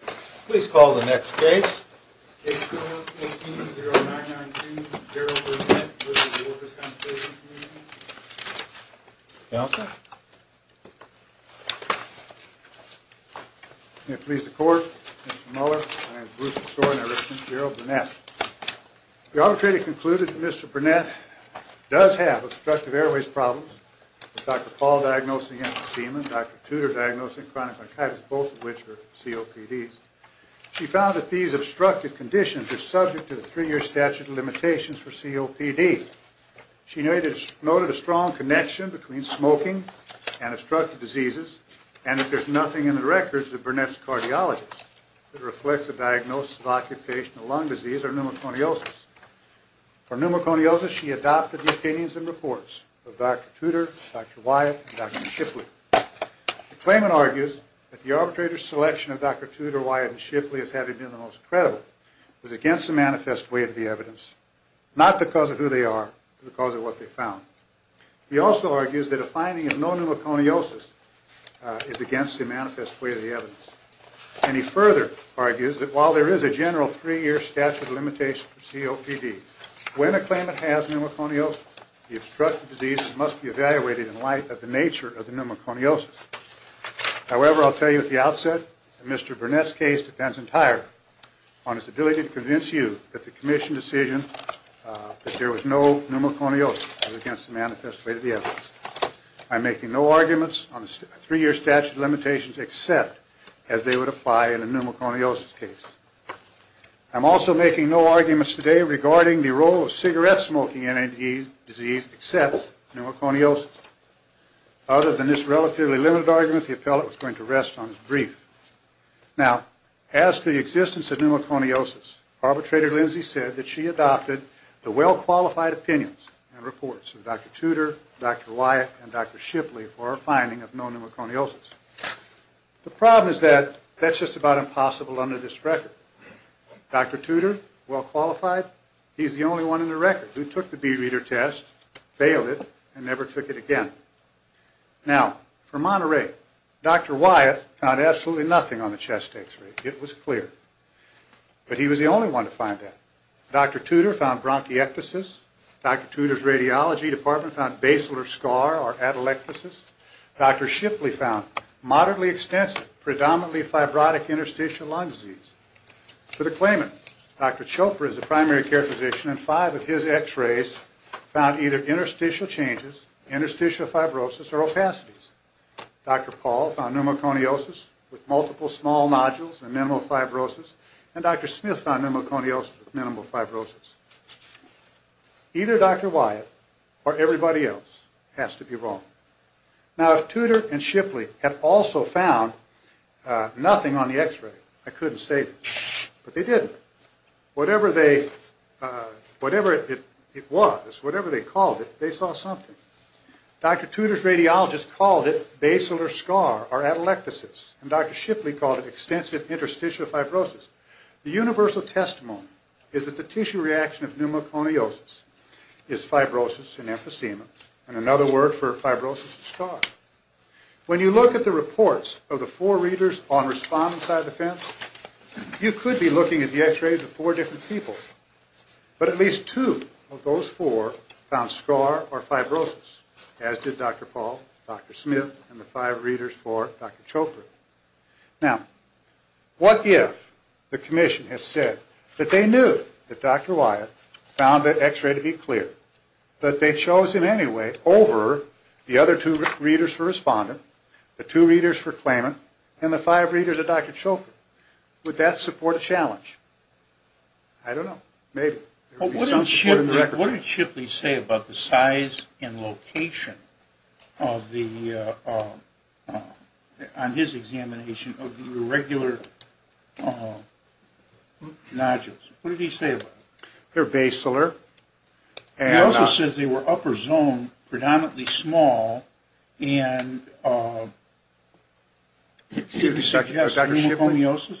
Please call the next case. Case number 18-0992. Gerald Burnett v. Workers' Compensation Comm'n May it please the court. Mr. Mueller. My name is Bruce McSorin. I represent Gerald Burnett. The arbitrator concluded that Mr. Burnett does have obstructive airways problems. Dr. Paul diagnosing emphysema. Dr. Tudor diagnosing chronic bronchitis, both of which are COPDs. She found that these obstructive conditions are subject to the three-year statute of limitations for COPD. She noted a strong connection between smoking and obstructive diseases, and that there's nothing in the records of Burnett's cardiologists that reflects a diagnosis of occupational lung disease or pneumoconiosis. For pneumoconiosis, she adopted the opinions and reports of Dr. Tudor, Dr. Wyatt, and Dr. Shipley. The claimant argues that the arbitrator's selection of Dr. Tudor, Wyatt, and Shipley as having been the most credible was against the manifest way of the evidence, not because of who they are, but because of what they found. He also argues that a finding of no pneumoconiosis is against the manifest way of the evidence. And he further argues that while there is a general three-year statute of limitations for COPD, when a claimant has pneumoconiosis, the obstructive disease must be evaluated in light of the nature of the pneumoconiosis. However, I'll tell you at the outset, Mr. Burnett's case depends entirely on his ability to convince you that the commission decision that there was no pneumoconiosis was against the manifest way of the evidence. I'm making no arguments on the three-year statute of limitations except as they would apply in a pneumoconiosis case. I'm also making no arguments today regarding the role of cigarette smoking in a disease except pneumoconiosis. Other than this relatively limited argument, the appellate was going to rest on his brief. Now, as to the existence of pneumoconiosis, arbitrator Lindsay said that she adopted the well-qualified opinions and reports of Dr. Tudor, Dr. Wyatt, and Dr. Shipley for a finding of no pneumoconiosis. The problem is that that's just about impossible under this record. Dr. Tudor, well-qualified, he's the only one in the record who took the B-reader test, failed it, and never took it again. Now, for Monterey, Dr. Wyatt found absolutely nothing on the chest X-ray. It was clear. But he was the only one to find that. Dr. Tudor found bronchiectasis. Dr. Tudor's radiology department found basilar scar or atelectasis. Dr. Shipley found moderately extensive, predominantly fibrotic interstitial lung disease. For the claimant, Dr. Chopra is a primary care physician, and five of his X-rays found either interstitial changes, interstitial fibrosis, or opacities. Dr. Paul found pneumoconiosis with multiple small nodules and minimal fibrosis. And Dr. Smith found pneumoconiosis with minimal fibrosis. Either Dr. Wyatt or everybody else has to be wrong. Now, if Tudor and Shipley had also found nothing on the X-ray, I couldn't say this, but they did. Whatever it was, whatever they called it, they saw something. Dr. Tudor's radiologist called it basilar scar or atelectasis, and Dr. Shipley called it extensive interstitial fibrosis. The universal testimony is that the tissue reaction of pneumoconiosis is fibrosis and emphysema. And another word for fibrosis is scar. When you look at the reports of the four readers on respondent side of the fence, you could be looking at the X-rays of four different people. But at least two of those four found scar or fibrosis, as did Dr. Paul, Dr. Smith, and the five readers for Dr. Chopra. Now, what if the commission had said that they knew that Dr. Wyatt found the X-ray to be clear, but they chose him anyway over the other two readers for respondent, the two readers for claimant, and the five readers of Dr. Chopra? Would that support a challenge? I don't know. Maybe. What did Shipley say about the size and location on his examination of the irregular nodules? What did he say about them? They're basilar. He also said they were upper zone, predominantly small, and pneumoconiosis.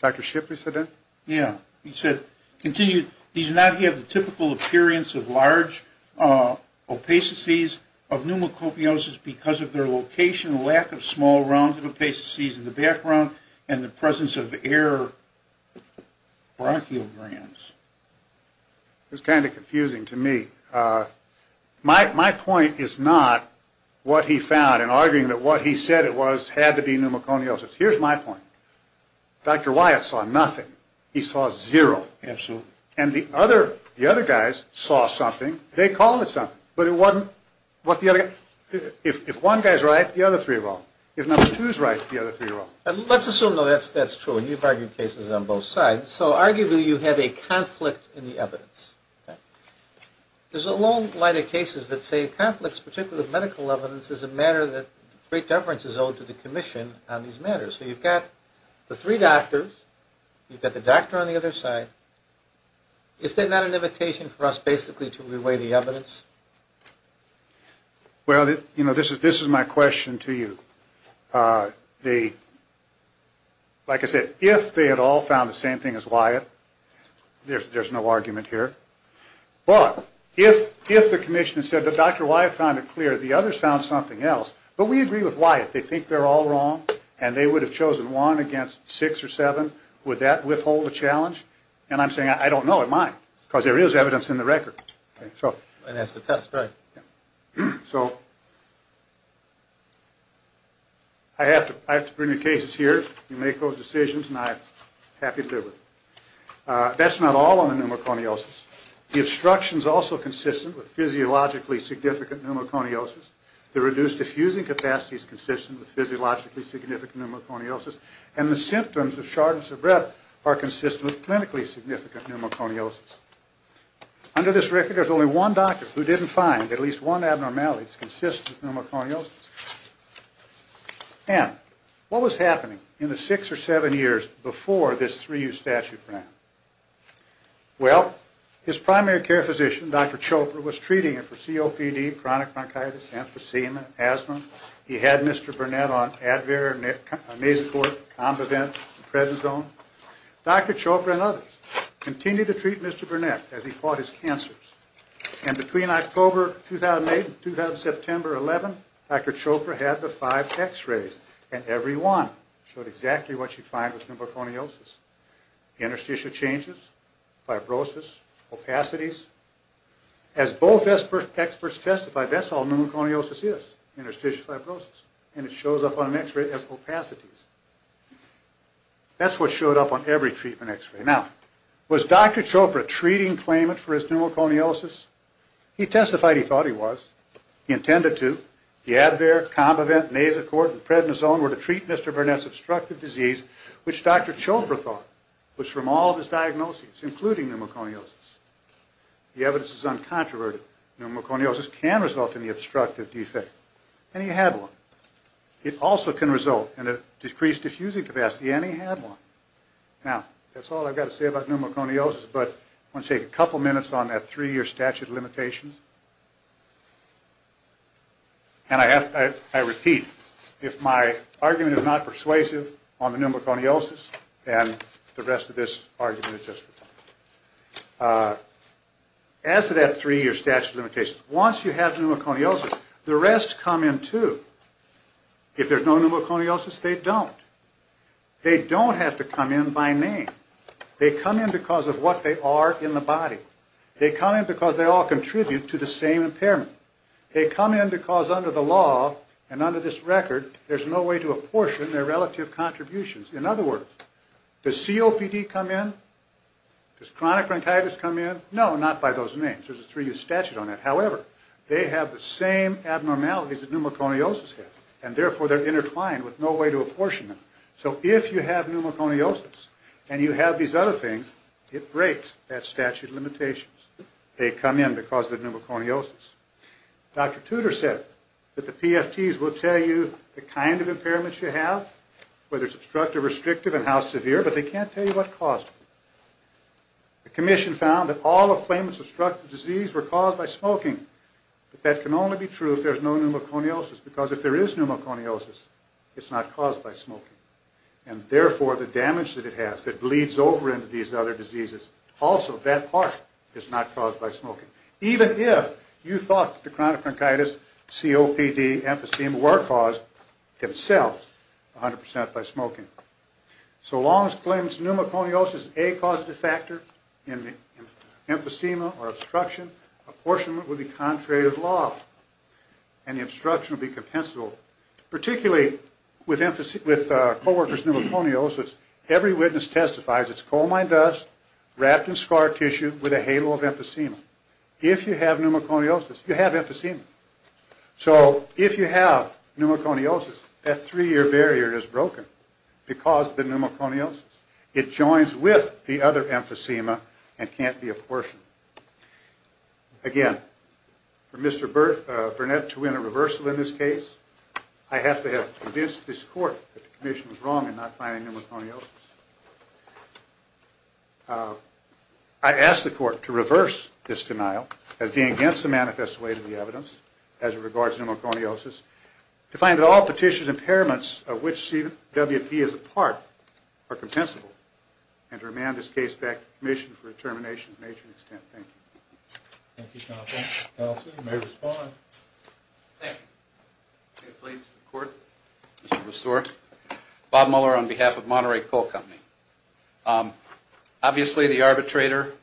Dr. Shipley said that? Yeah. He said, continued, these do not have the typical appearance of large opacities of pneumoconiosis because of their location, lack of small round opacities in the background, and the presence of air bronchiograms. It was kind of confusing to me. My point is not what he found in arguing that what he said it was had to be pneumoconiosis. Here's my point. Dr. Wyatt saw nothing. He saw zero. Absolutely. And the other guys saw something. They called it something. If one guy is right, the other three are wrong. If number two is right, the other three are wrong. Let's assume, though, that's true, and you've argued cases on both sides. So arguably you have a conflict in the evidence. There's a long line of cases that say conflicts, particularly with medical evidence, is a matter that great deference is owed to the commission on these matters. So you've got the three doctors. You've got the doctor on the other side. Is that not an invitation for us basically to reweigh the evidence? Well, you know, this is my question to you. Like I said, if they had all found the same thing as Wyatt, there's no argument here. But if the commission said that Dr. Wyatt found it clear, the others found something else, but we agree with Wyatt, they think they're all wrong, and they would have chosen one against six or seven, would that withhold a challenge? And I'm saying I don't know. It might, because there is evidence in the record. And that's the test, right. So I have to bring the cases here. You make those decisions, and I'm happy to deal with them. That's not all on the pneumoconiosis. The obstruction is also consistent with physiologically significant pneumoconiosis. The reduced effusing capacity is consistent with physiologically significant pneumoconiosis. And the symptoms of shortness of breath are consistent with clinically significant pneumoconiosis. Under this record, there's only one doctor who didn't find at least one abnormality that's consistent with pneumoconiosis. Now, what was happening in the six or seven years before this 3U statute ran? Well, his primary care physician, Dr. Chopra, was treating him for COPD, chronic bronchitis, emphysema, asthma. He had Mr. Burnett on Advair, Amazeport, Combivent, Prednisone. Dr. Chopra and others continued to treat Mr. Burnett as he fought his cancers. And between October 2008 and September 2011, Dr. Chopra had the five x-rays, and every one showed exactly what you find with pneumoconiosis. Interstitial changes, fibrosis, opacities. As both experts testified, that's all pneumoconiosis is, interstitial fibrosis. And it shows up on an x-ray as opacities. That's what showed up on every treatment x-ray. Now, was Dr. Chopra treating claimant for his pneumoconiosis? He testified he thought he was. He intended to. The Advair, Combivent, Amazeport, and Prednisone were to treat Mr. Burnett's obstructive disease, which Dr. Chopra thought was from all of his diagnoses, including pneumoconiosis. The evidence is uncontroverted. Pneumoconiosis can result in the obstructive defect, and he had one. It also can result in a decreased diffusing capacity, and he had one. Now, that's all I've got to say about pneumoconiosis, but I want to take a couple minutes on that three-year statute of limitations. And I repeat, if my argument is not persuasive on the pneumoconiosis, then the rest of this argument is justified. As to that three-year statute of limitations, once you have pneumoconiosis, the rest come in, too. If there's no pneumoconiosis, they don't. They don't have to come in by name. They come in because of what they are in the body. They come in because they all contribute to the same impairment. They come in because under the law and under this record, there's no way to apportion their relative contributions. In other words, does COPD come in? Does chronic bronchitis come in? No, not by those names. There's a three-year statute on that. However, they have the same abnormalities that pneumoconiosis has, and therefore they're intertwined with no way to apportion them. So if you have pneumoconiosis and you have these other things, it breaks that statute of limitations. They come in because of pneumoconiosis. Dr. Tudor said that the PFTs will tell you the kind of impairments you have, whether it's obstructive or restrictive, and how severe, but they can't tell you what caused them. The commission found that all of claims of obstructive disease were caused by smoking, but that can only be true if there's no pneumoconiosis, because if there is pneumoconiosis, it's not caused by smoking, and therefore the damage that it has that bleeds over into these other diseases, also that part is not caused by smoking, even if you thought that the chronic bronchitis, COPD, emphysema were caused themselves 100% by smoking. So Long's claims pneumoconiosis is a causative factor in the emphysema or obstruction. Apportionment would be contrary to the law, and the obstruction would be compensable, particularly with coworkers' pneumoconiosis. Every witness testifies it's coal mine dust wrapped in scar tissue with a halo of emphysema. If you have pneumoconiosis, you have emphysema. So if you have pneumoconiosis, that three-year barrier is broken because of the pneumoconiosis. It joins with the other emphysema and can't be apportioned. Again, for Mr. Burnett to win a reversal in this case, I have to have convinced this Court that the Commission was wrong in not finding pneumoconiosis. I ask the Court to reverse this denial as being against the manifest way to the evidence as it regards pneumoconiosis, to find that all Petitioner's impairments of which CWP is a part are compensable, and to remand this case back to the Commission for determination to a major extent. Thank you. Thank you, Counselor. Counselor, you may respond. Thank you. May it please the Court? Mr. Bristow, Bob Muller on behalf of Monterey Coal Company. Obviously, the arbitrator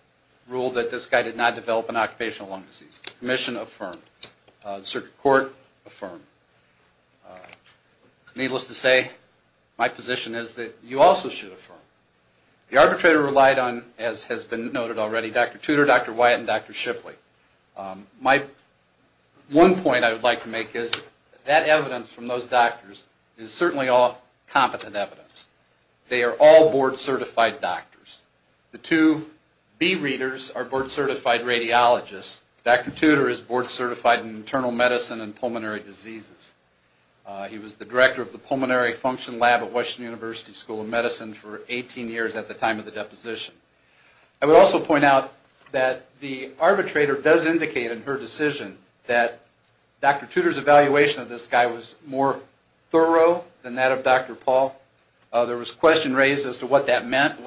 ruled that this guy did not develop an occupational lung disease. The Commission affirmed. The Circuit Court affirmed. Needless to say, my position is that you also should affirm. The arbitrator relied on, as has been noted already, Dr. Tudor, Dr. Wyatt, and Dr. Shipley. My one point I would like to make is that evidence from those doctors is certainly all competent evidence. They are all board-certified doctors. The two B-readers are board-certified radiologists. Dr. Tudor is board-certified in internal medicine and pulmonary diseases. He was the director of the Pulmonary Function Lab at Washington University School of Medicine for 18 years at the time of the deposition. I would also point out that the arbitrator does indicate in her decision that Dr. Tudor's evaluation of this guy was more thorough than that of Dr. Paul. There was a question raised as to what that meant.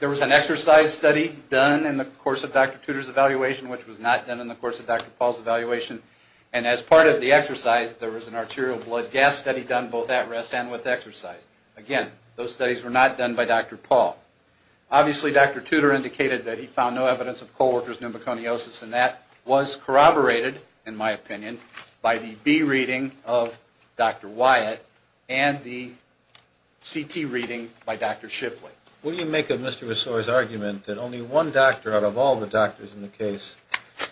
There was an exercise study done in the course of Dr. Tudor's evaluation, which was not done in the course of Dr. Paul's evaluation. As part of the exercise, there was an arterial blood gas study done both at rest and with exercise. Again, those studies were not done by Dr. Paul. Obviously, Dr. Tudor indicated that he found no evidence of co-workers' pneumoconiosis, and that was corroborated, in my opinion, by the B-reading of Dr. Wyatt and the CT reading by Dr. Shipley. What do you make of Mr. Ressour's argument that only one doctor out of all the doctors in the case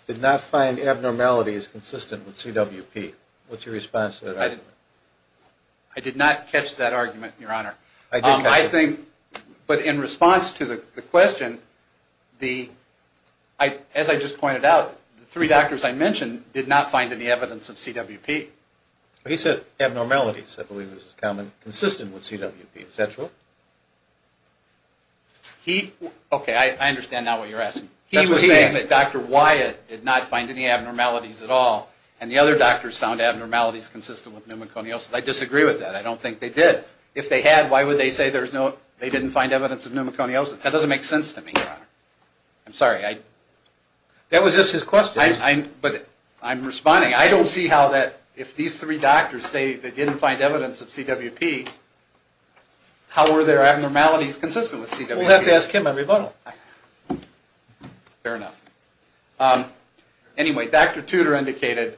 did not find abnormalities consistent with CWP? What's your response to that argument? I did not catch that argument, Your Honor. I did catch it. But in response to the question, as I just pointed out, the three doctors I mentioned did not find any evidence of CWP. He said abnormalities, I believe is his comment, consistent with CWP. Is that true? Okay, I understand now what you're asking. He was saying that Dr. Wyatt did not find any abnormalities at all, and the other doctors found abnormalities consistent with pneumoconiosis. I disagree with that. I don't think they did. If they had, why would they say they didn't find evidence of pneumoconiosis? That doesn't make sense to me, Your Honor. I'm sorry. That was just his question. But I'm responding. I don't see how that, if these three doctors say they didn't find evidence of CWP, how were their abnormalities consistent with CWP? We'll have to ask him a rebuttal. Fair enough. Anyway, Dr. Tudor indicated,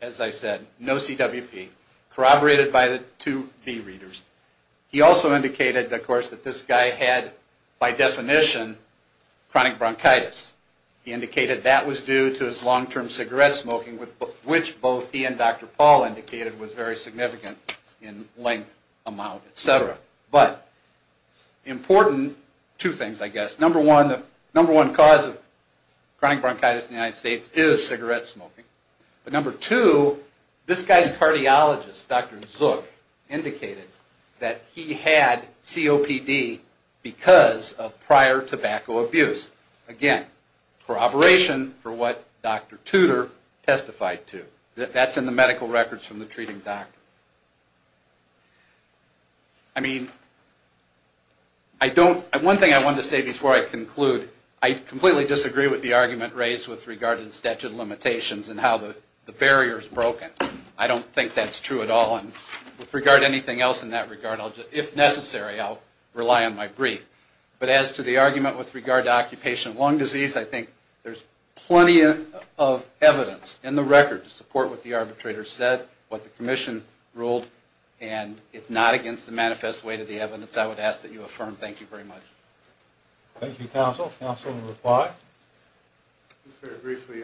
as I said, no CWP, corroborated by the two B readers. He also indicated, of course, that this guy had, by definition, chronic bronchitis. He indicated that was due to his long-term cigarette smoking, which both he and Dr. Paul indicated was very significant in length, amount, et cetera. But important two things, I guess. Number one, the number one cause of chronic bronchitis in the United States is cigarette smoking. But number two, this guy's cardiologist, Dr. Zook, indicated that he had COPD because of prior tobacco abuse. Again, corroboration for what Dr. Tudor testified to. That's in the medical records from the treating doctor. I mean, one thing I wanted to say before I conclude, I completely disagree with the argument raised with regard to the statute of limitations and how the barrier is broken. I don't think that's true at all. And with regard to anything else in that regard, if necessary, I'll rely on my brief. But as to the argument with regard to occupational lung disease, I think there's plenty of evidence in the record to support what the arbitrator said, what the commission ruled, and it's not against the manifest weight of the evidence. I would ask that you affirm. Thank you very much. Thank you, counsel. Counsel will reply. Just very briefly,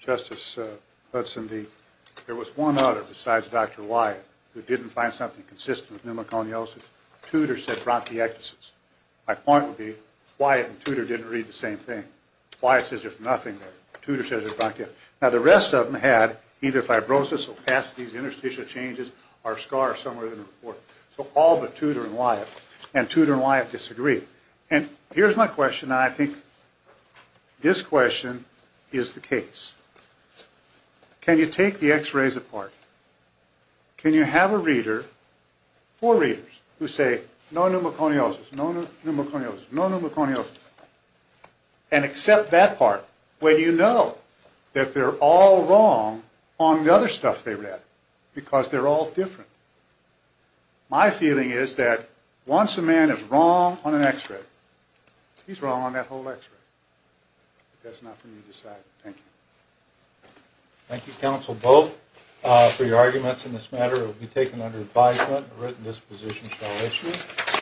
Justice Hudson, there was one other besides Dr. Wyatt who didn't find something consistent with pneumoconiosis. Tudor said bronchiectasis. My point would be Wyatt and Tudor didn't read the same thing. Wyatt says there's nothing there. Tudor says it's bronchiectasis. Now, the rest of them had either fibrosis, opacities, interstitial changes, or a scar somewhere in the report. So all but Tudor and Wyatt. And Tudor and Wyatt disagreed. And here's my question, and I think this question is the case. Can you take the x-rays apart? Can you have a reader, four readers, who say no pneumoconiosis, no pneumoconiosis, no pneumoconiosis, and accept that part when you know that they're all wrong on the other stuff they read because they're all different? My feeling is that once a man is wrong on an x-ray, he's wrong on that whole x-ray. But that's not for me to decide. Thank you. Thank you, counsel, both, for your arguments in this matter. It will be taken under advisement. A written disposition shall issue.